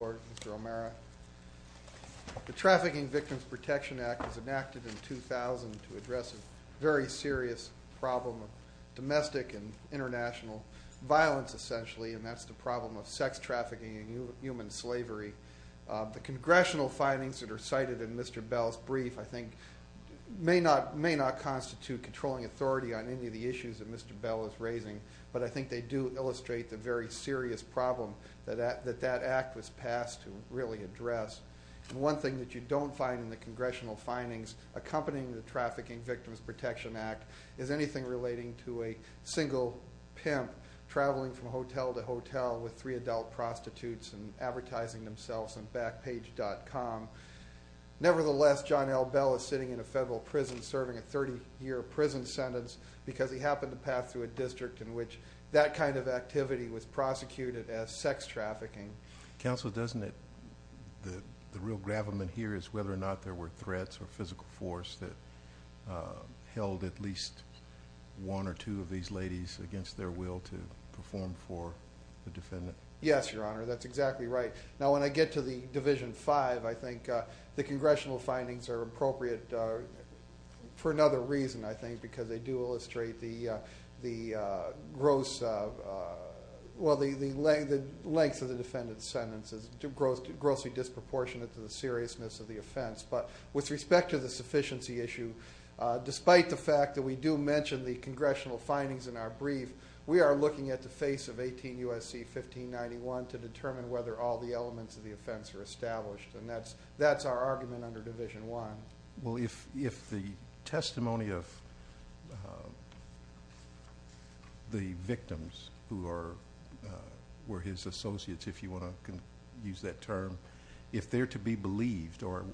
The Trafficking Victims Protection Act was enacted in 2000 to address a very serious problem of domestic and international violence, essentially, and that's the problem of sex trafficking and human slavery. The Congressional findings that are cited in Mr. Bell's brief, I think, may not constitute controlling authority on any of the issues that Mr. Bell is raising, but I think they do illustrate the very serious problem that that act was passed to really address. One thing that you don't find in the Congressional findings accompanying the Trafficking Victims Protection Act is anything relating to a single pimp traveling from hotel to hotel with three adult prostitutes and advertising themselves on Backpage.com. Nevertheless, Johnelle Bell is sitting in a federal prison serving a 30-year prison sentence because he happened to pass through a district in which that kind of activity was prosecuted as sex trafficking. Judge Goldberg Counsel, doesn't it, the real gravamen here is whether or not there were threats or physical force that held at least one or two of these ladies against their will to perform for the defendant? Mr. Bell Yes, Your Honor, that's exactly right. Now, when I get to the Division V, I think the Congressional findings are appropriate for another reason, I think, because they do illustrate the gross, well, the length of the defendant's sentence is grossly disproportionate to the seriousness of the offense. But with respect to the sufficiency issue, despite the fact that we do mention the Congressional findings in our brief, we are looking at the face of 18 U.S.C. 1591 to determine whether all the elements of the offense are established, and that's our argument under Division I. Judge Goldberg Well, if the testimony of the victims who were his associates, if you want to use that term, if they're to be believed or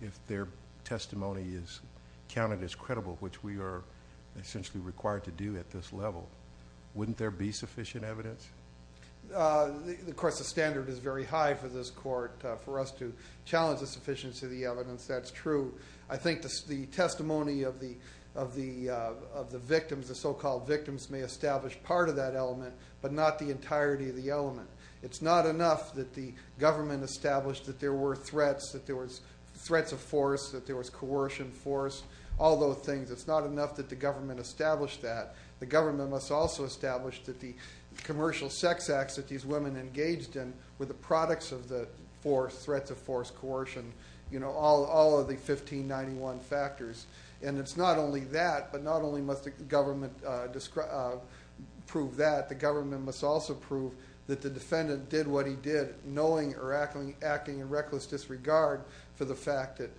if their testimony is counted as credible, which we are essentially required to do at this level, wouldn't there be sufficient evidence? Mr. Bell Of course, the standard is very high for this Court, for us to challenge the sufficiency of the evidence, that's true. I think the testimony of the victims, the so-called victims, may establish part of that element, but not the entirety of the element. It's not enough that the government established that there were threats, that there was threats of force, that there was coercion, force, all those things. It's not enough that the government established that. The government must also establish that the commercial sex acts that these women engaged in were the products of the threats of force, coercion, all of the 1591 factors. It's not only that, but not only must the government prove that, the government must also prove that the defendant did what he did, knowing or acting in reckless disregard for the fact that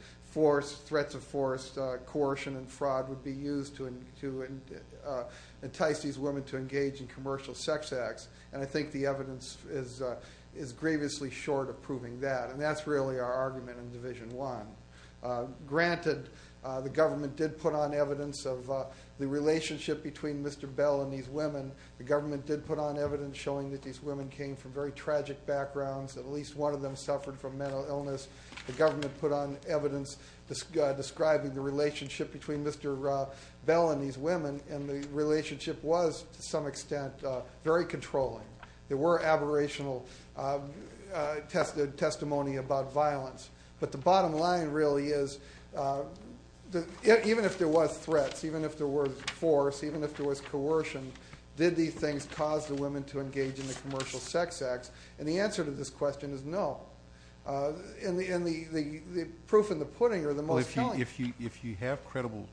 threats of force, coercion and fraud would be used to entice these women to engage in commercial sex acts, and I think the evidence is grievously short of proving that, and that's really our argument in Division 1. Granted, the government did put on evidence of the relationship between Mr. Bell and these women. The government did put on evidence showing that these women came from very tragic backgrounds, at least one of them suffered from mental illness. The government put on evidence describing the relationship between Mr. Bell and these women, and the relationship was, to some extent, very controlling. There were aberrational testimony about violence, but the bottom line really is, even if there was threats, even if there was force, even if there was coercion, did these things cause the women to engage in the commercial sex acts? And the answer to this question is no. And the proof and the pudding are the most telling. If you have credible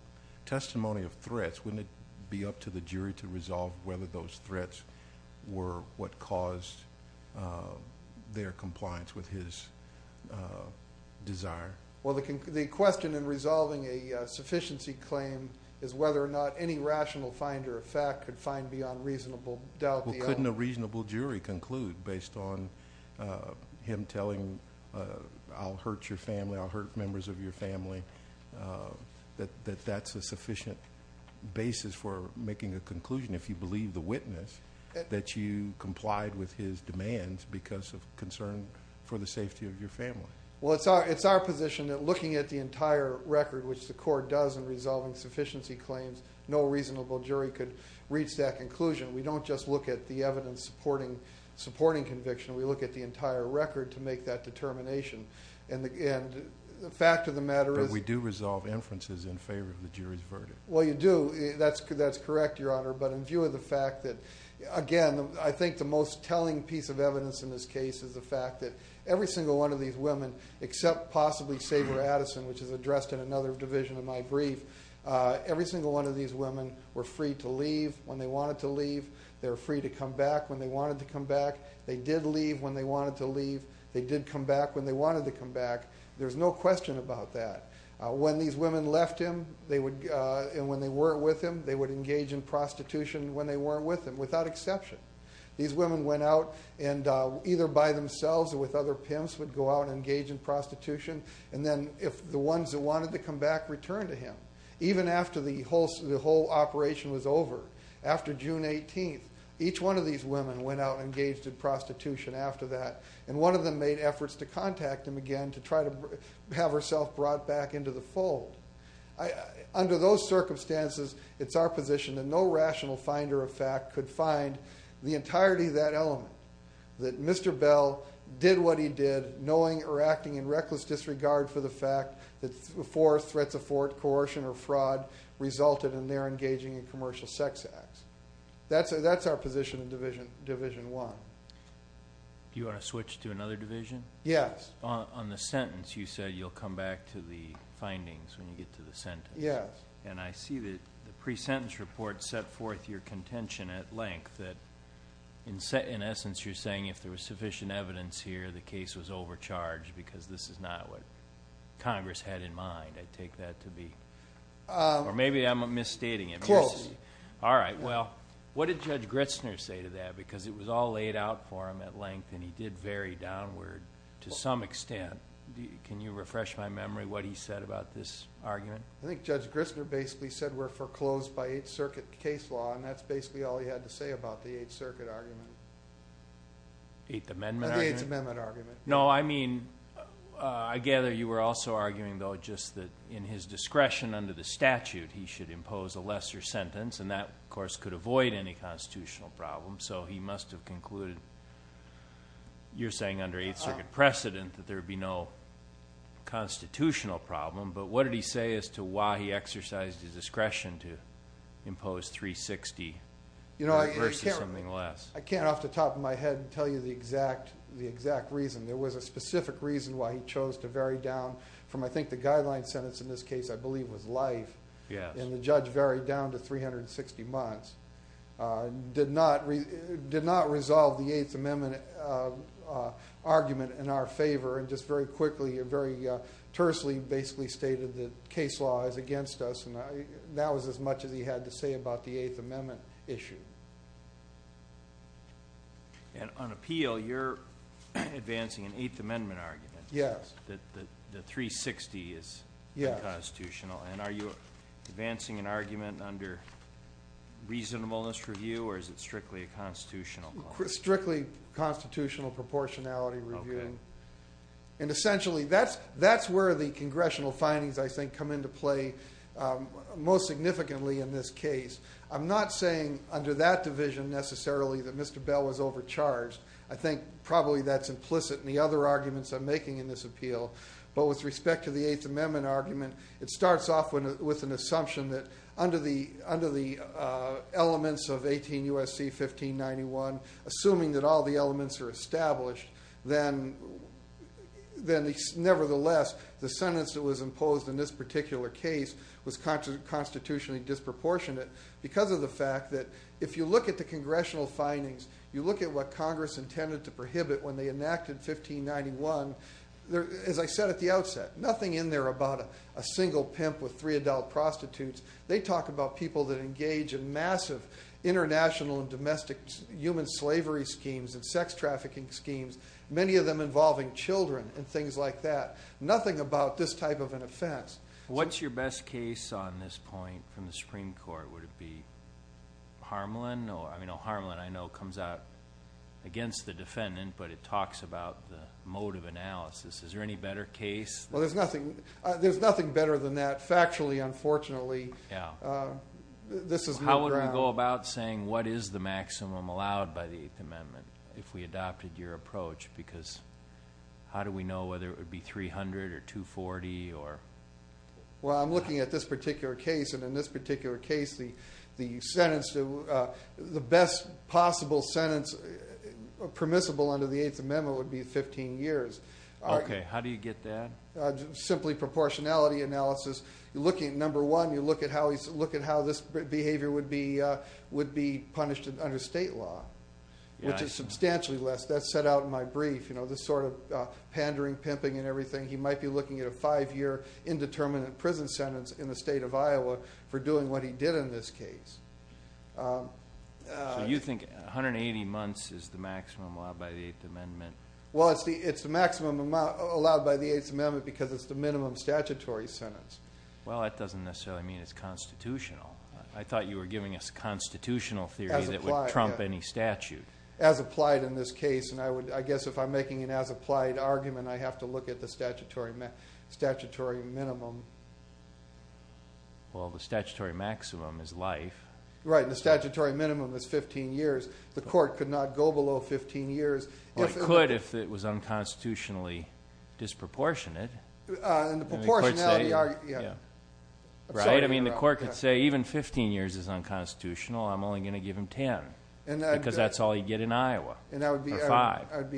testimony of threats, wouldn't it be up to the jury to resolve whether those threats were what caused their compliance with his desire? Well, the question in resolving a sufficiency claim is whether or not any rational finder of fact could find beyond reasonable doubt the other. Well, couldn't a reasonable jury conclude, based on him telling, I'll hurt your family, I'll hurt members of your family, that that's a sufficient basis for making a conclusion, if you believe the witness, that you complied with his demands because of concern for the safety of your family? Well, it's our position that looking at the entire record, which the court does in resolving sufficiency claims, no reasonable jury could reach that conclusion. We don't just look at the evidence supporting conviction. We look at the entire record to make that determination. And the fact of the matter is... But we do resolve inferences in favor of the jury's verdict. Well, you do. That's correct, Your Honor. But in view of the fact that, again, I think the most telling piece of evidence in this case is the fact that every single one of these women, except possibly Sabra Addison, which is addressed in another division of my brief, every single one of these women were free to leave when they wanted to leave. They were free to come back when they wanted to come back. They did leave when they wanted to leave. They did come back when they wanted to come back. There's no question about that. When these women left him, and when they weren't with him, they would engage in prostitution when they weren't with him, without exception. These women went out and either by themselves or with other pimps would go out and engage in prostitution. And then if the ones that wanted to come back returned to him. Even after the whole operation was over, after June 18th, each one of these women went out and engaged in prostitution after that. And one of them made efforts to contact him again to try to have herself brought back into the fold. Under those circumstances, it's our position that no rational finder of fact could find the entirety of that element. That Mr. Bell did what he did, knowing or acting in disregard for the fact that threats of coercion or fraud resulted in their engaging in commercial sex acts. That's our position in Division I. Do you want to switch to another division? Yes. On the sentence, you said you'll come back to the findings when you get to the sentence. Yes. And I see that the pre-sentence report set forth your contention at length that in essence you're saying if there was sufficient evidence here the case was overcharged because this is not what Congress had in mind. I take that to be. Or maybe I'm misstating it. Close. All right. Well, what did Judge Gritzner say to that? Because it was all laid out for him at length and he did vary downward to some extent. Can you refresh my memory what he said about this argument? I think Judge Gritzner basically said we're foreclosed by Eighth Circuit case law and that's basically all he had to say about the Eighth Circuit argument. The Eighth Amendment argument. No, I mean, I gather you were also arguing though just that in his discretion under the statute he should impose a lesser sentence and that, of course, could avoid any constitutional problem. So he must have concluded, you're saying under Eighth Circuit precedent, that there would be no constitutional problem. But what did he say as to why he exercised his discretion to impose 360 versus something less? I can't off the top of my head tell you the exact reason. There was a specific reason why he chose to vary down from, I think, the guideline sentence in this case, I believe was life, and the judge varied down to 360 months. Did not resolve the Eighth Amendment argument in our favor and just very quickly, very quickly, the case law is against us. And that was as much as he had to say about the Eighth Amendment issue. And on appeal, you're advancing an Eighth Amendment argument. Yes. That the 360 is constitutional. And are you advancing an argument under reasonableness review or is it strictly a constitutional? Strictly constitutional proportionality review. And essentially, that's where the arguments are going to come into play most significantly in this case. I'm not saying under that division, necessarily, that Mr. Bell was overcharged. I think probably that's implicit in the other arguments I'm making in this appeal. But with respect to the Eighth Amendment argument, it starts off with an assumption that under the elements of 18 U.S.C. 1591, assuming that all the elements are established, then nevertheless, the sentence that was imposed in this particular case was constitutionally disproportionate because of the fact that if you look at the congressional findings, you look at what Congress intended to prohibit when they enacted 1591, as I said at the outset, nothing in there about a single pimp with three adult prostitutes. They talk about people that engage in massive international and domestic human slavery schemes and sex trafficking schemes, many of them involving children and things like that. Nothing about this type of an offense. What's your best case on this point from the Supreme Court? Would it be Harmelin? I mean, Harmelin I know comes out against the defendant, but it talks about the motive analysis. Is there any better case? Well, there's nothing better than that, factually, unfortunately. How would we go about saying what is the maximum allowed by the Eighth Amendment if we adopted your approach? Because how do we know whether it would be 300 or 240? Well, I'm looking at this particular case and in this particular case, the best possible sentence permissible under the Eighth Amendment would be 15 years. Okay, how do you get that? Simply proportionality analysis. Number one, you look at how this behavior would be punished under state law, which is substantially less. That's set out in my brief, this sort of pandering, pimping and everything. He might be looking at a five-year indeterminate prison sentence in the state of Iowa for doing what he did in this case. So you think 180 months is the maximum allowed by the Eighth Amendment? Well, it's the maximum allowed by the Eighth Amendment because it's the minimum statutory sentence. Well, that doesn't necessarily mean it's constitutional. I thought you were giving us constitutional theory that would trump any statute. As applied in this case, and I guess if I'm making an as applied argument, I have to look at the statutory minimum. Well, the statutory maximum is life. Right, and the statutory minimum is 15 years. The court could not go below 15 years. Well, it could if it was unconstitutionally disproportionate. Right, I mean the court could say even 15 years is unconstitutional, I'm only going to give him 10 because that's all he'd get in Iowa. And I would be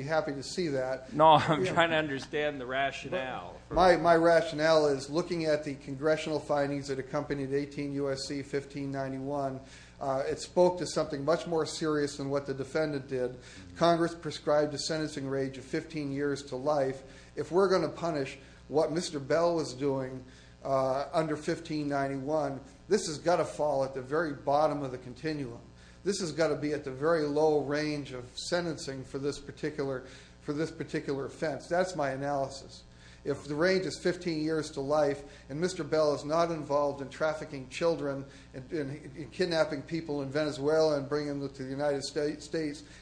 happy to see that. No, I'm trying to understand the rationale. My rationale is looking at the congressional findings that accompanied 18 U.S.C. 1591, it spoke to something much more serious than what the defendant did. Congress prescribed a sentencing range of 15 years to life. If we're going to punish what Mr. Bell was doing under 1591, this has got to fall at the very bottom of the continuum. This has got to be at the very low range of sentencing for this particular offense. That's my analysis. If the range is 15 years to life and Mr. Bell is not involved in trafficking children and kidnapping people in Venezuela and bringing them to the United States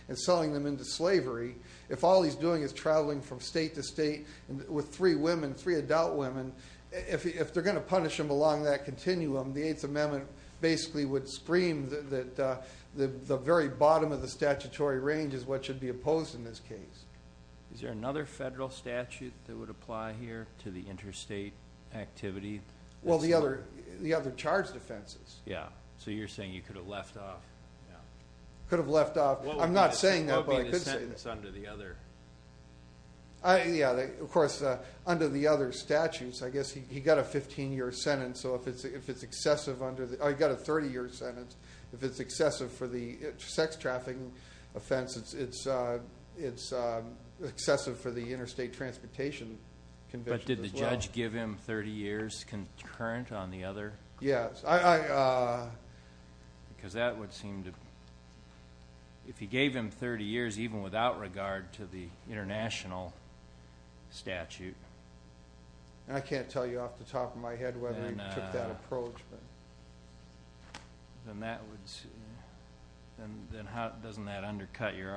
and selling them into slavery, if all he's doing is traveling from state to state with three women, three adult women, if they're going to punish him along that continuum the 8th Amendment basically would scream that the very bottom of the statutory range is what should be opposed in this case. Is there another federal statute that would apply here to the interstate activity? Well, the other charged offenses. Yeah, so you're saying you could have left off. Could have left off. I'm not saying that, but I could say that. What would be the sentence under the other? Yeah, of course, under the other statutes, I guess he got a 15-year sentence, so if it's excessive under the, oh, he got a 30-year sentence. If it's excessive for the sex trafficking offense it's excessive for the Interstate Transportation Convention as well. But did the judge give him 30 years concurrent on the other? Yes. Because that would seem to, if he gave him 30 years even without regard to the international statute. I can't tell you off the top of my head whether he took that approach. Then that would, then how, doesn't that undercut your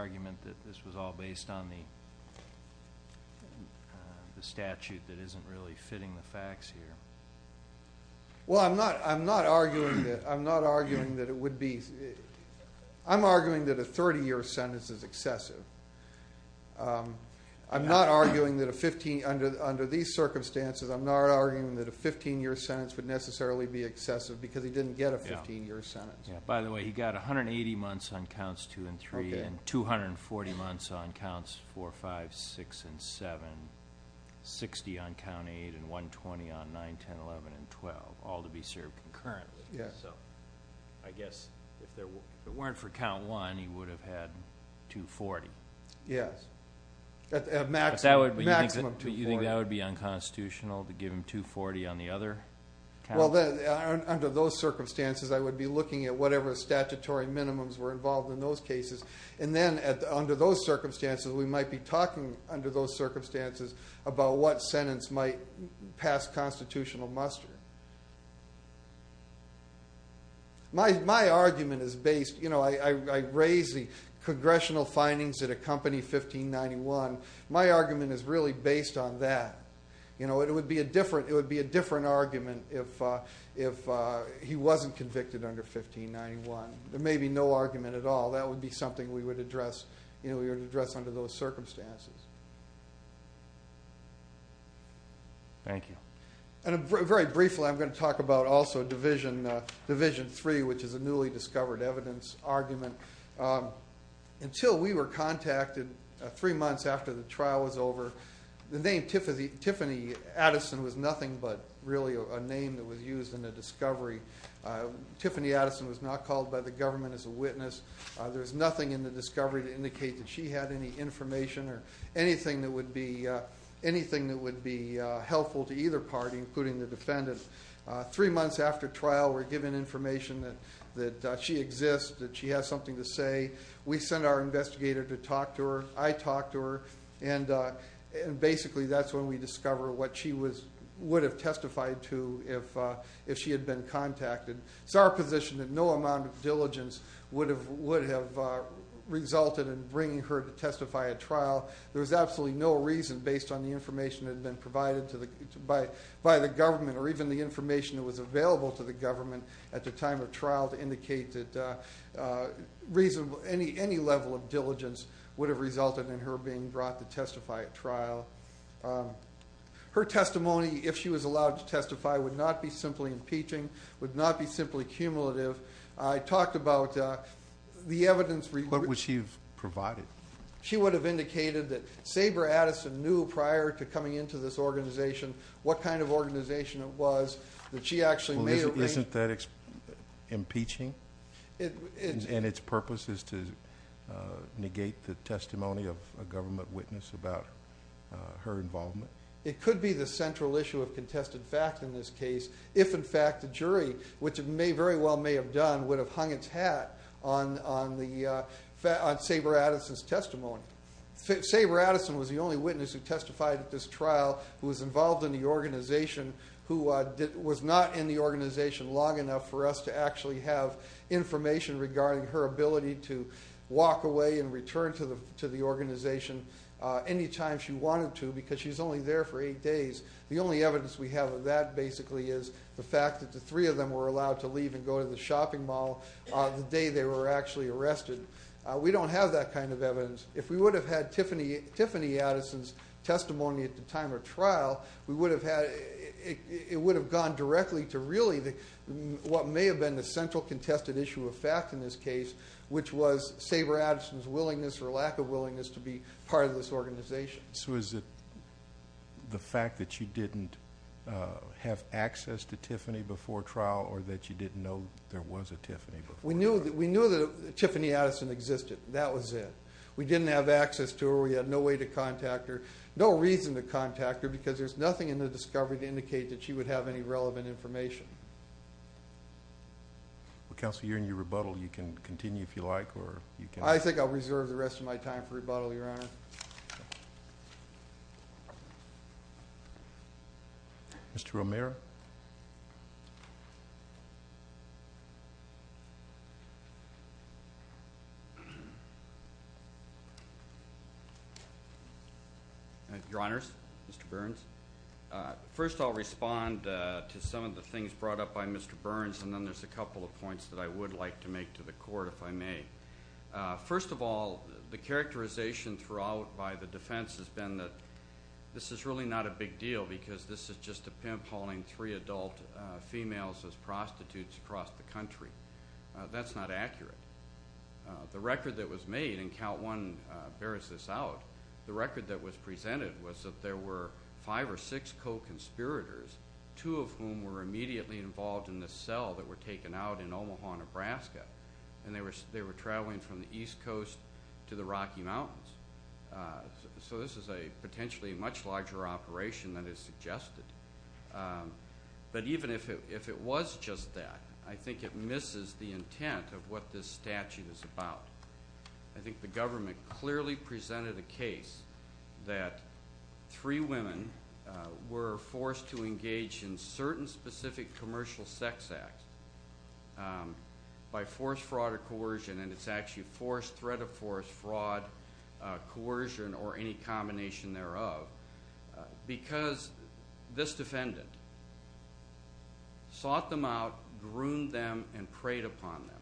Well, I'm not arguing that, I'm not arguing that it would be I'm arguing that a 30-year sentence is excessive. I'm not arguing that a 15, under these circumstances, I'm not arguing that a 15-year sentence would necessarily be excessive because he didn't get a 15-year sentence. By the way, he got 180 months on counts 2 and 3. And 240 months on counts 4, 5, 6, and 7. 60 on count 8 and 120 on 9, 10, 11, and 12. All to be served concurrently. I guess if it weren't for count 1, he would have had 240. Yes. Maximum 240. But you think that would be unconstitutional to give him 240 on the other count? Under those circumstances, I would be looking at whatever statutory minimums were involved in those cases. And then under those circumstances, we might be talking under those circumstances about what sentence might pass constitutional muster. My argument is based, I raise the congressional findings that accompany 1591. My argument is really based on that. It would be a different argument if he wasn't convicted under 1591. There may be no argument at all. That would be something we would address under those circumstances. Thank you. And very briefly, I'm going to talk about also Division 3, which is a newly released document. It was released three months after the trial was over. The name Tiffany Addison was nothing but really a name that was used in the discovery. Tiffany Addison was not called by the government as a witness. There was nothing in the discovery to indicate that she had any information or anything that would be helpful to either party, including the defendant. Three months after trial, we're given information that she exists, that she has something to say. We send our investigator to talk to her. I talk to her. And basically, that's when we discover what she would have testified to if she had been contacted. It's our position that no amount of diligence would have resulted in bringing her to testify at trial. There was absolutely no reason based on the information that had been provided by the government or even the information that was available to the government at the time of trial to indicate that any level of diligence would have resulted in her being brought to testify at trial. Her testimony, if she was allowed to testify, would not be simply impeaching, would not be simply cumulative. I talked about the evidence... What would she have provided? She would have indicated that Saber Addison knew prior to coming into this organization what kind of organization it was that she actually may have been... Isn't that impeaching? And its purpose is to negate the testimony of a government witness about her involvement? It could be the central issue of contested fact in this case if, in fact, the jury, which it very well may have done, would have hung its hat on Saber Addison's testimony. Saber Addison was the only witness who testified at this trial who was involved in the organization who was not in the organization long enough for us to actually have information regarding her ability to walk away and return to the organization any time she wanted to because she's only there for eight days. The only evidence we have of that, basically, is the fact that the three of them were allowed to leave and go to the shopping mall the day they were actually arrested. We don't have that kind of evidence. If we would have had Tiffany Addison's testimony at the time of trial, it would have gone directly to really what may have been the central contested issue of fact in this case, which was Saber Addison's willingness or lack of willingness to be part of this organization. So is it the fact that you didn't have access to Tiffany before trial or that you didn't know there was a Tiffany before trial? We knew that Tiffany Addison existed. That was it. We didn't have access to her. We had no way to contact her. Because there's nothing in the discovery to indicate that she would have any relevant information. Well, Counselor, you're in your rebuttal. You can continue if you like. I think I'll reserve the rest of my time for rebuttal, Your Honor. Mr. Romero? Your Honors, Mr. Burns, first I'll respond to some of the things brought up by Mr. Burns, and then there's a couple of points that I would like to make to the Court, if I may. First of all, the characterization throughout by the defense has been that this is really not a big deal because this is just a pimp hauling three adult females as prostitutes across the country. That's not accurate. The record that was made, and Count 1 bears this out, the record that was presented was that there were five or six co-conspirators, two of whom were immediately involved in the cell that were taken out in Omaha, Nebraska, and they were traveling from the East Coast to the Rocky Mountains. So this is a potentially much larger operation than is suggested. But even if it was just that, I think it misses the intent of what this statute is about. I think the government clearly presented a case that three women were forced to engage in certain specific commercial sex acts by forced fraud or coercion, and it's actually force, threat of force, fraud, coercion, or any combination thereof, because this defendant sought them out, groomed them, and preyed upon them.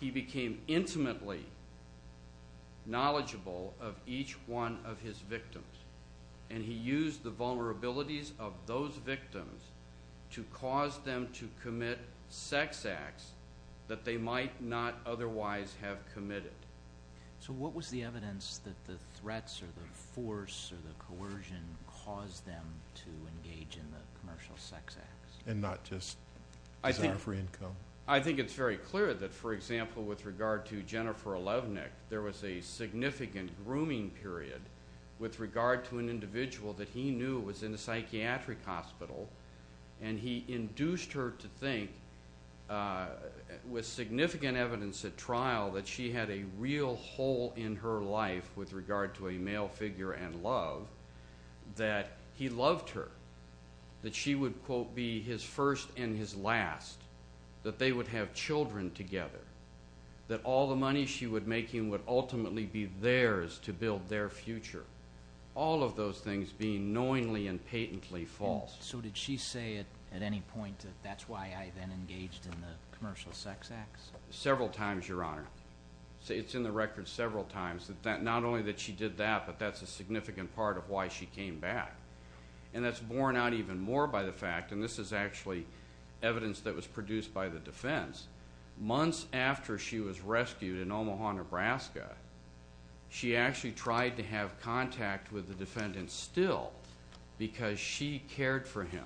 He became intimately knowledgeable of each one of his victims, and he used the vulnerabilities of those victims to cause them to commit sex acts that they might not otherwise have committed. So what was the evidence that the threats or the force or the coercion caused them to engage in the commercial sex acts? And not just desire for income? I think it's very clear that, for example, with regard to Jennifer Levnick, there was a significant grooming period with regard to an individual that he knew was in a psychiatric hospital, and he induced her to think, with significant evidence at trial, that she had a real hole in her life with regard to a male figure and love, that he loved her, that she would, quote, be his first and his last, that they would have children together, that all the money she would make him would ultimately be theirs to build their future, all of those things being knowingly and patently false. So did she say at any point that that's why I then engaged in the commercial sex acts? Several times, Your Honor. It's in the record several times, that not only that she did that, but that's a significant part of why she came back. And that's borne out even more by the fact, and this is actually evidence that was produced by the defense, months after she was rescued in Omaha, Nebraska, she actually tried to have contact with the defendant still because she cared for him.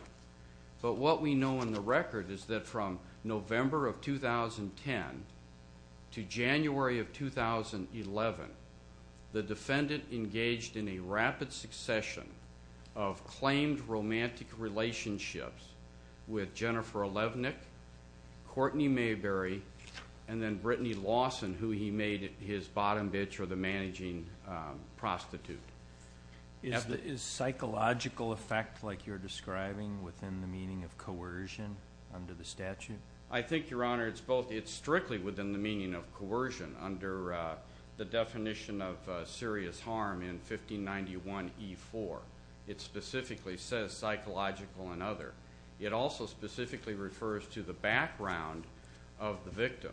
But what we know in the record is that from November of 2010 to January of 2011, the defendant engaged in a rapid succession of claimed romantic relationships with Jennifer Levnick, Courtney Mayberry, and then Brittany Lawson, who he made his bottom bitch or the managing prostitute. Is psychological effect like you're describing within the meaning of coercion under the statute? I think, Your Honor, it's both. It's strictly within the meaning of coercion under the definition of serious harm in 1591E4. It specifically says psychological and other. It also specifically refers to the background of the victim.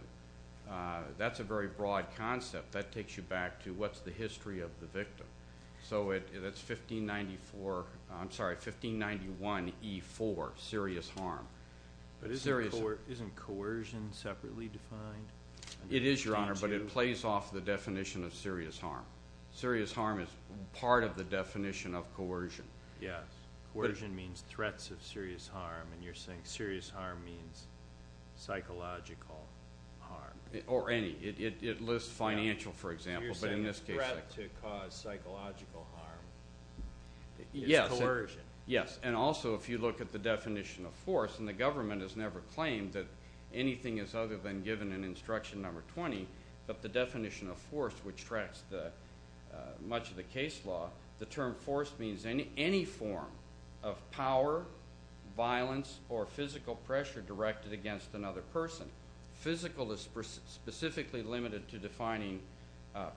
That's a very broad concept. That takes you back to what's the history of the victim. So that's 1594, I'm sorry, 1591E4, serious harm. But isn't coercion separately defined? It is, Your Honor, but it plays off the definition of serious harm. Serious harm is part of the definition of coercion. Yes. Coercion means threats of serious harm, and you're saying serious harm means psychological harm. Or any. It lists financial, for example, but in this case. You're saying a threat to cause psychological harm is coercion. Yes, and also if you look at the definition of force, and the government has never claimed that anything is other than given in instruction number 20, but the definition of force, which tracks much of the case law, the term force means any form of power, violence, or physical pressure directed against another person. Physical is specifically limited to defining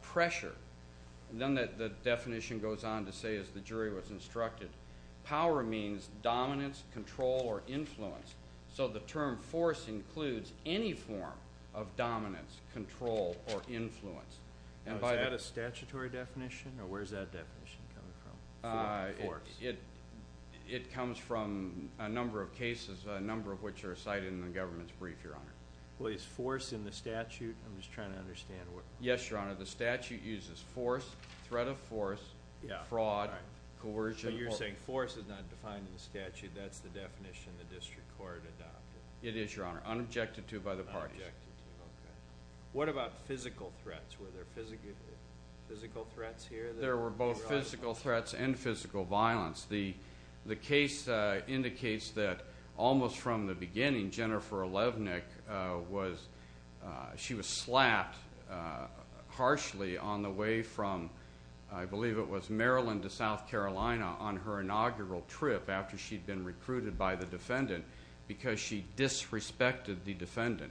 pressure. Then the definition goes on to say, as the jury was instructed, power means dominance, control, or influence. So the term force includes any form of dominance, control, or influence. Is that a statutory definition, or where is that definition coming from? It comes from a number of cases, a number of which are cited in the government's brief, Your Honor. Well, is force in the statute? I'm just trying to understand. Yes, Your Honor. The statute uses force, threat of force, fraud, coercion. So you're saying force is not defined in the statute. That's the definition the district court adopted. It is, Your Honor, unobjected to by the parties. Unobjected to, okay. What about physical threats? Were there physical threats here? There were both physical threats and physical violence. The case indicates that almost from the beginning, Jennifer Levnick was slapped harshly on the way from, I believe it was Maryland to South Carolina on her inaugural trip after she'd been recruited by the defendant because she disrespected the defendant.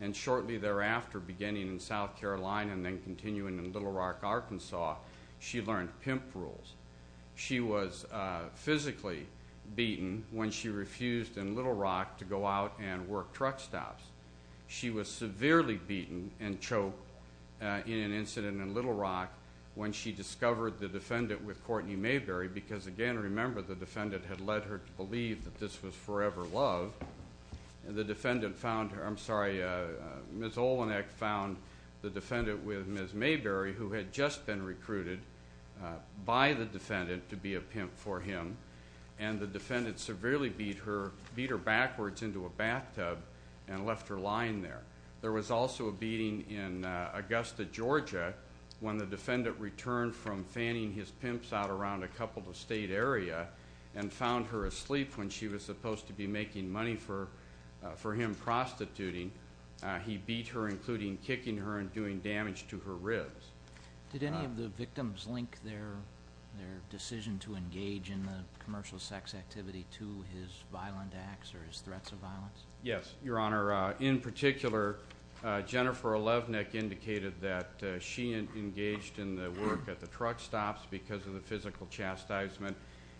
And shortly thereafter, beginning in South Carolina and then continuing in Little Rock, Arkansas, she learned pimp rules. She was physically beaten when she refused in Little Rock to go out and work truck stops. She was severely beaten and choked in an incident in Little Rock when she discovered the defendant with Courtney Mayberry because, again, remember the defendant had led her to believe that this was forever love. The defendant found her, I'm sorry, Ms. Olenek found the defendant with Ms. Mayberry, who had just been recruited by the defendant to be a pimp for him, and the defendant severely beat her backwards into a bathtub and left her lying there. There was also a beating in Augusta, Georgia, when the defendant returned from fanning his pimps out around a couple of state area and found her asleep when she was supposed to be making money for him prostituting. He beat her, including kicking her and doing damage to her ribs. Did any of the victims link their decision to engage in the commercial sex activity to his violent acts or his threats of violence? Yes, Your Honor. In particular, Jennifer Olenek indicated that she engaged in the work at the truck stops because of the physical chastisement,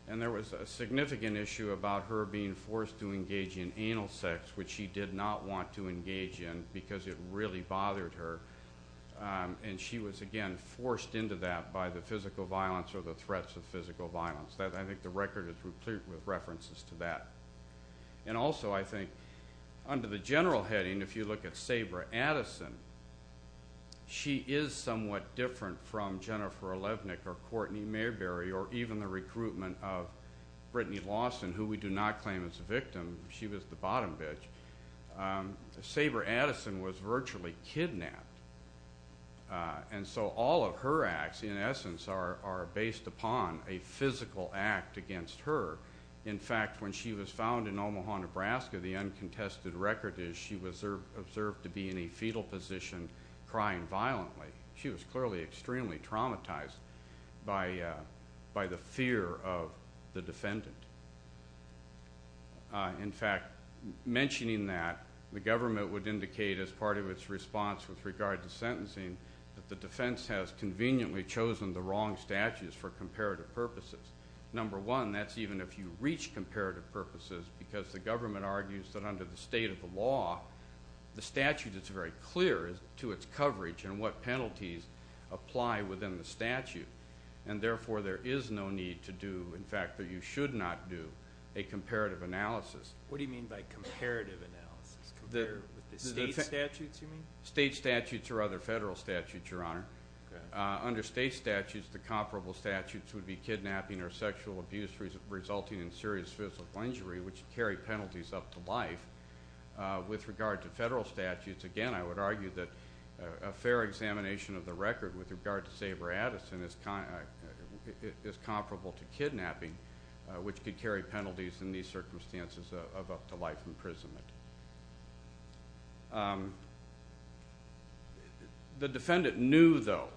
and there was a significant issue about her being forced to engage in anal sex, which she did not want to engage in because it really bothered her, and she was, again, forced into that by the physical violence or the threats of physical violence. I think the record is complete with references to that. Also, I think under the general heading, if you look at Sabra Addison, she is somewhat different from Jennifer Olenek or Courtney Mayberry or even the recruitment of Brittany Lawson, who we do not claim as a victim. She was the bottom bitch. Sabra Addison was virtually kidnapped, and so all of her acts, in essence, are based upon a physical act against her. In fact, when she was found in Omaha, Nebraska, the uncontested record is she was observed to be in a fetal position crying violently. She was clearly extremely traumatized by the fear of the defendant. In fact, mentioning that, the government would indicate as part of its response with regard to sentencing that the defense has conveniently chosen the wrong statutes for comparative purposes. Number one, that's even if you reach comparative purposes, because the government argues that under the state of the law, the statute is very clear to its coverage and what penalties apply within the statute, and therefore there is no need to do, in fact, that you should not do, a comparative analysis. What do you mean by comparative analysis? State statutes, you mean? State statutes or other federal statutes, Your Honor. Under state statutes, the comparable statutes would be kidnapping or sexual abuse resulting in serious physical injury, which carry penalties up to life. With regard to federal statutes, again, I would argue that a fair examination of the record with regard to Sabra Addison is comparable to kidnapping, which could carry penalties in these circumstances of up-to-life imprisonment. The defendant knew, though,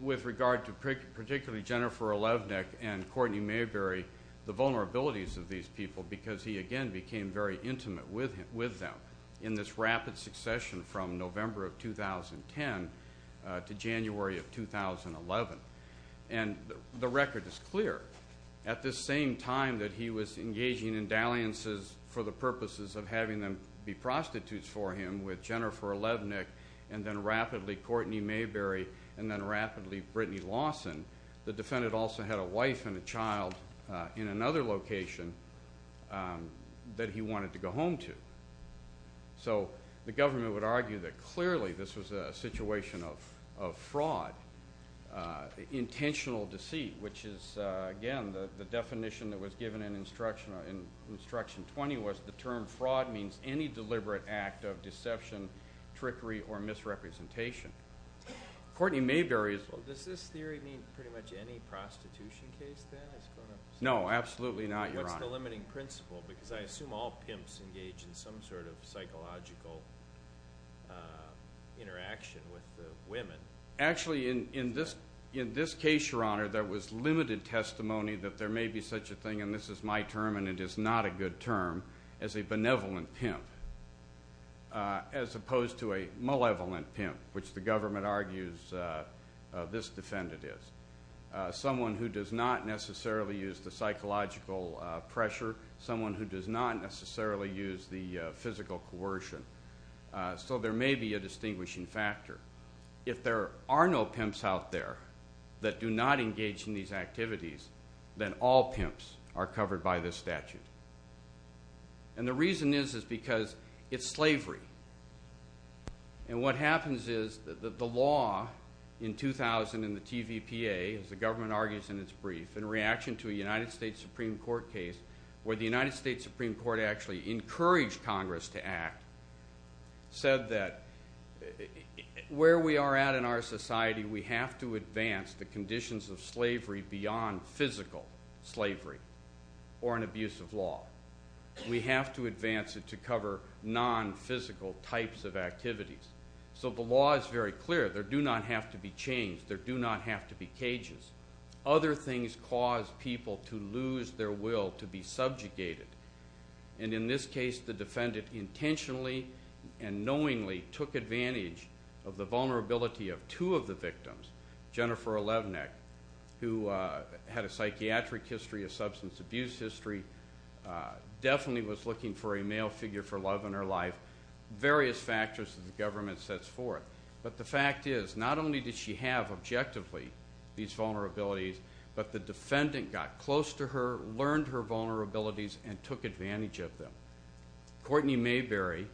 with regard to particularly Jennifer Olevnik and Courtney Mayberry, the vulnerabilities of these people because he, again, became very intimate with them in this rapid succession from November of 2010 to January of 2011. And the record is clear. At this same time that he was engaging in dalliances for the purposes of having them be prostitutes for him with Jennifer Olevnik and then rapidly Courtney Mayberry and then rapidly Brittany Lawson, the defendant also had a wife and a child in another location that he wanted to go home to. So the government would argue that clearly this was a situation of fraud, intentional deceit, which is, again, the definition that was given in Instruction 20 was the term fraud means any deliberate act of deception, trickery, or misrepresentation. Courtney Mayberry is- Well, does this theory mean pretty much any prostitution case then? No, absolutely not, Your Honor. What's the limiting principle? Because I assume all pimps engage in some sort of psychological interaction with women. Actually, in this case, Your Honor, there was limited testimony that there may be such a thing, and this is my term and it is not a good term, as a benevolent pimp as opposed to a malevolent pimp, which the government argues this defendant is. Someone who does not necessarily use the psychological pressure, someone who does not necessarily use the physical coercion. So there may be a distinguishing factor. If there are no pimps out there that do not engage in these activities, then all pimps are covered by this statute. And the reason is is because it's slavery. And what happens is the law in 2000 in the TVPA, as the government argues in its brief, in reaction to a United States Supreme Court case where the United States Supreme Court actually encouraged Congress to act, said that where we are at in our society, we have to advance the conditions of slavery beyond physical slavery or an abusive law. We have to advance it to cover non-physical types of activities. So the law is very clear. There do not have to be chains. There do not have to be cages. Other things cause people to lose their will to be subjugated. And in this case, the defendant intentionally and knowingly took advantage of the vulnerability of two of the victims, Jennifer Levenick, who had a psychiatric history, a substance abuse history, definitely was looking for a male figure for love in her life, various factors that the government sets forth. But the fact is, not only did she have objectively these vulnerabilities, but the defendant got close to her, learned her vulnerabilities, and took advantage of them. Courtney Mayberry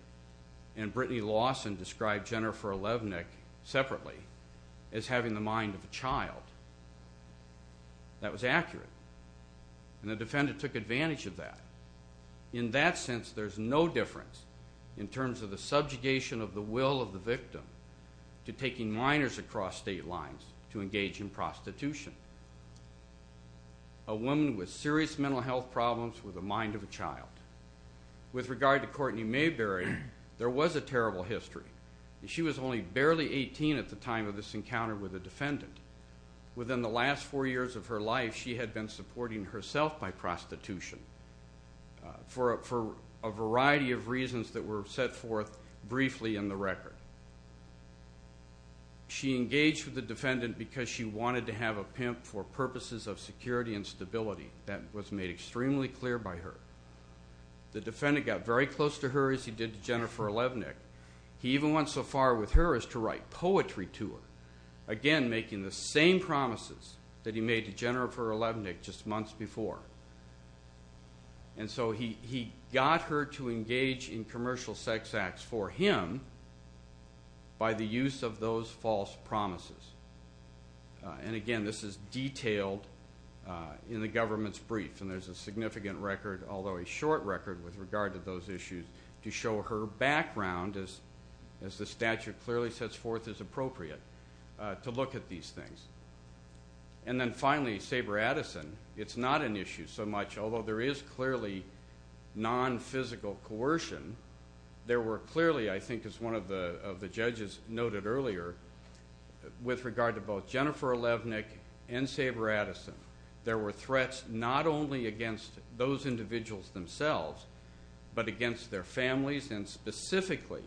and Brittany Lawson described Jennifer Levenick separately as having the mind of a child. That was accurate. And the defendant took advantage of that. In that sense, there's no difference in terms of the subjugation of the will of the victim to taking minors across state lines to engage in prostitution. A woman with serious mental health problems with a mind of a child. With regard to Courtney Mayberry, there was a terrible history. She was only barely 18 at the time of this encounter with the defendant. Within the last four years of her life, she had been supporting herself by prostitution for a variety of reasons that were set forth briefly in the record. She engaged with the defendant because she wanted to have a pimp for purposes of security and stability. That was made extremely clear by her. The defendant got very close to her, as he did to Jennifer Levenick. He even went so far with her as to write poetry to her. Again, making the same promises that he made to Jennifer Levenick just months before. And so he got her to engage in commercial sex acts for him by the use of those false promises. And, again, this is detailed in the government's brief. And there's a significant record, although a short record with regard to those issues, to show her background, as the statute clearly sets forth as appropriate, to look at these things. And then, finally, Saber Addison. It's not an issue so much, although there is clearly non-physical coercion. There were clearly, I think, as one of the judges noted earlier, with regard to both Jennifer Levenick and Saber Addison, there were threats not only against those individuals themselves, but against their families, and specifically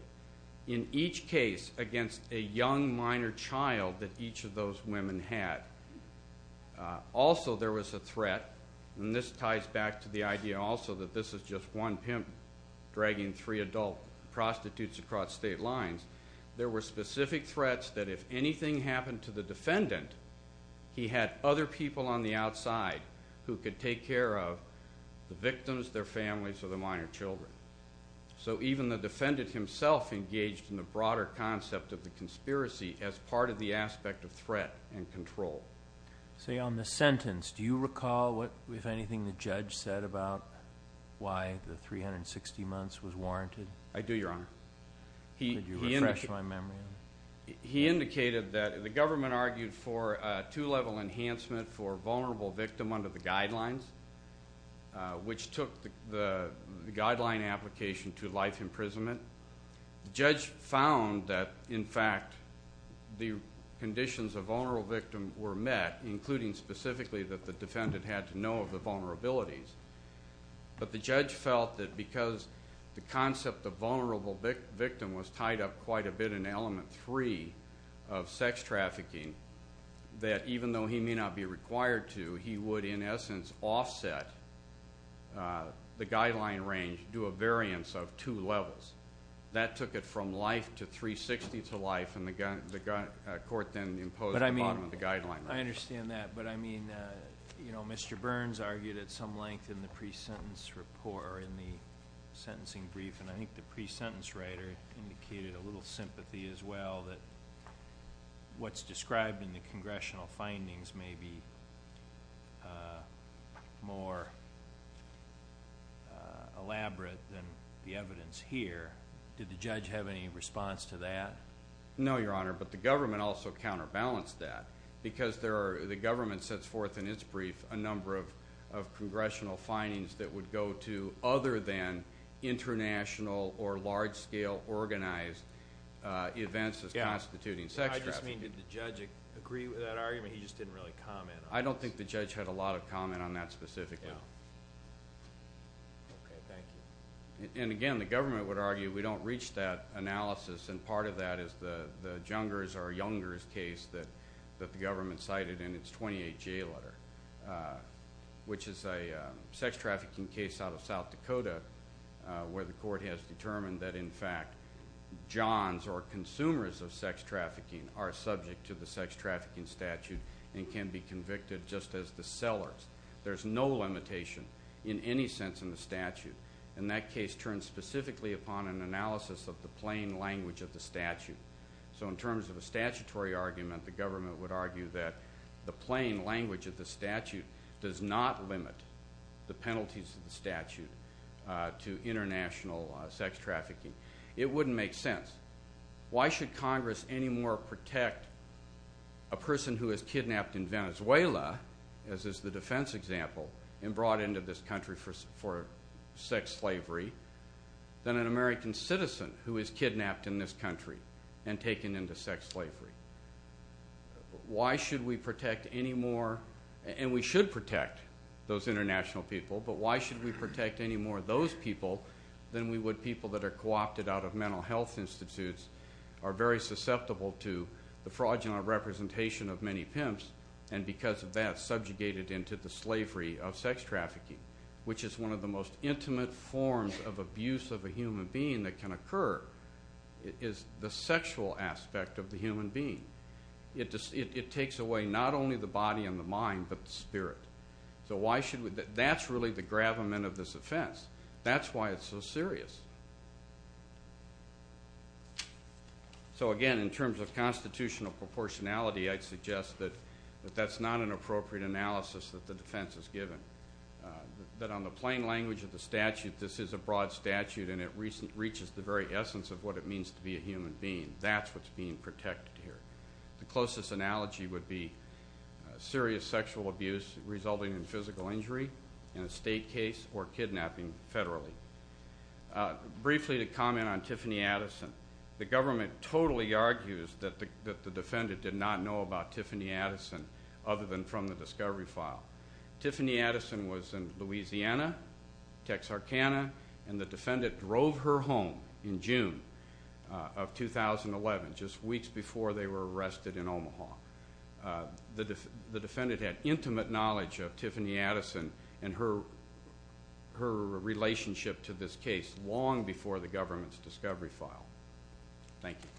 in each case against a young minor child that each of those women had. Also there was a threat, and this ties back to the idea also that this is just one pimp dragging three adult prostitutes across state lines. There were specific threats that if anything happened to the defendant, he had other people on the outside who could take care of the victims, their families, or the minor children. So even the defendant himself engaged in the broader concept of the conspiracy as part of the aspect of threat and control. Say, on the sentence, do you recall if anything the judge said about why the 360 months was warranted? I do, Your Honor. Could you refresh my memory? He indicated that the government argued for a two-level enhancement for vulnerable victim under the guidelines, which took the guideline application to life imprisonment. The judge found that, in fact, the conditions of vulnerable victim were met, including specifically that the defendant had to know of the vulnerabilities. But the judge felt that because the concept of vulnerable victim was tied up quite a bit in element three of sex trafficking, that even though he may not be required to, he would, in essence, offset the guideline range to a variance of two levels. That took it from life to 360 to life, and the court then imposed the bottom of the guideline. I understand that, but I mean, you know, Mr. Burns argued at some length in the pre-sentence report, or in the sentencing brief, and I think the pre-sentence writer indicated a little sympathy as well, that what's described in the congressional findings may be more elaborate than the evidence here. Did the judge have any response to that? No, Your Honor, but the government also counterbalanced that. Because the government sets forth in its brief a number of congressional findings that would go to other than international or large-scale organized events as constituting sex trafficking. I just mean, did the judge agree with that argument? He just didn't really comment on this. I don't think the judge had a lot of comment on that specifically. Okay, thank you. And, again, the government would argue we don't reach that analysis, and part of that is the Jungers or Youngers case that the government cited in its 28-J letter, which is a sex trafficking case out of South Dakota where the court has determined that, in fact, Johns or consumers of sex trafficking are subject to the sex trafficking statute and can be convicted just as the sellers. There's no limitation in any sense in the statute, and that case turns specifically upon an analysis of the plain language of the statute. So in terms of a statutory argument, the government would argue that the plain language of the statute does not limit the penalties of the statute to international sex trafficking. It wouldn't make sense. Why should Congress any more protect a person who is kidnapped in Venezuela, as is the defense example, and brought into this country for sex slavery than an American citizen who is kidnapped in this country and taken into sex slavery? Why should we protect any more? And we should protect those international people, but why should we protect any more of those people than we would people that are co-opted out of mental health institutes, are very susceptible to the fraudulent representation of many pimps, and because of that subjugated into the slavery of sex trafficking, which is one of the most intimate forms of abuse of a human being that can occur, is the sexual aspect of the human being. It takes away not only the body and the mind, but the spirit. So why should we? That's really the gravamen of this offense. That's why it's so serious. So, again, in terms of constitutional proportionality, I'd suggest that that's not an appropriate analysis that the defense has given, that on the plain language of the statute, this is a broad statute and it reaches the very essence of what it means to be a human being. That's what's being protected here. The closest analogy would be serious sexual abuse resulting in physical injury in a state case or kidnapping federally. Briefly to comment on Tiffany Addison, the government totally argues that the defendant did not know about Tiffany Addison other than from the discovery file. Tiffany Addison was in Louisiana, Texarkana, and the defendant drove her home in June of 2011, just weeks before they were arrested in Omaha. The defendant had intimate knowledge of Tiffany Addison and her relationship to this case long before the government's discovery file. Thank you.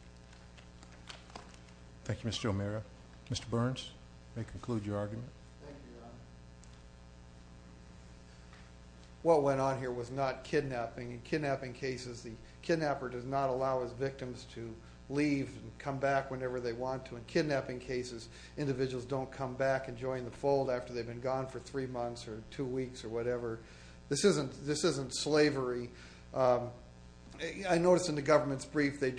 Thank you, Mr. O'Mara. Mr. Burns, may I conclude your argument? Thank you, Your Honor. What went on here was not kidnapping. In kidnapping cases, the kidnapper does not allow his victims to leave and come back whenever they want to. In kidnapping cases, individuals don't come back and join the fold after they've been gone for three months or two weeks or whatever. This isn't slavery. I noticed in the government's brief they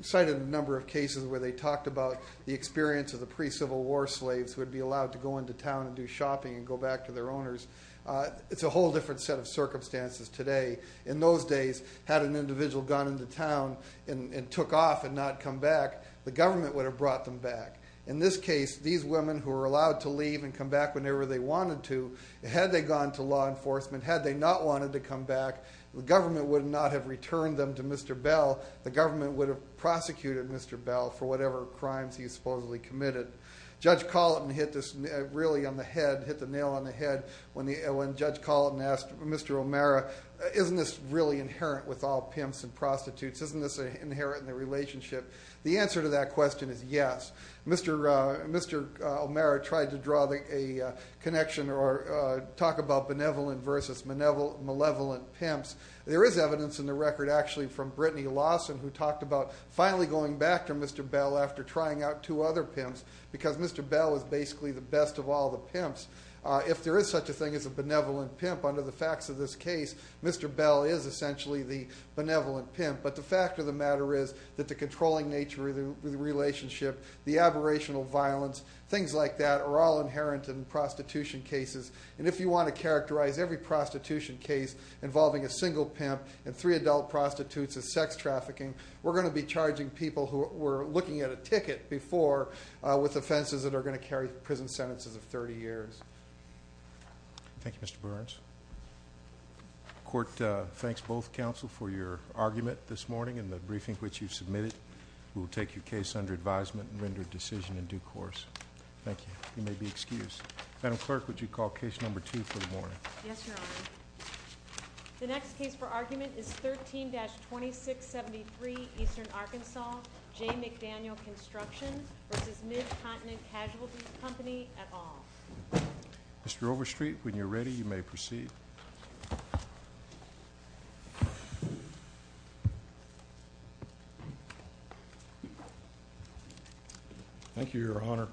cited a number of cases where they talked about the experience of the pre-Civil War slaves who would be allowed to go into town and do shopping and go back to their owners. It's a whole different set of circumstances today. In those days, had an individual gone into town and took off and not come back, the government would have brought them back. In this case, these women who were allowed to leave and come back whenever they wanted to, had they gone to law enforcement, had they not wanted to come back, the government would not have returned them to Mr. Bell. The government would have prosecuted Mr. Bell for whatever crimes he supposedly committed. Judge Colleton hit the nail on the head when Judge Colleton asked Mr. O'Mara, isn't this really inherent with all pimps and prostitutes? Isn't this inherent in the relationship? The answer to that question is yes. Mr. O'Mara tried to draw a connection or talk about benevolent versus malevolent pimps. There is evidence in the record actually from Brittany Lawson who talked about finally going back to Mr. Bell after trying out two other pimps because Mr. Bell was basically the best of all the pimps. If there is such a thing as a benevolent pimp, under the facts of this case, Mr. Bell is essentially the benevolent pimp. But the fact of the matter is that the controlling nature of the relationship, the aberrational violence, things like that are all inherent in prostitution cases. And if you want to characterize every prostitution case involving a single pimp and three adult prostitutes as sex trafficking, we're going to be charging people who were looking at a ticket before with offenses that are going to carry prison sentences of 30 years. Thank you, Mr. Burns. The court thanks both counsel for your argument this morning and the briefing which you submitted. We will take your case under advisement and render a decision in due course. Thank you. You may be excused. Madam Clerk, would you call Case No. 2 for the morning? Yes, Your Honor. The next case for argument is 13-2673 Eastern Arkansas, J. McDaniel Construction v. Mid-Continent Casualty Company, et al. Mr. Overstreet, when you're ready, you may proceed. Thank you, Your Honor.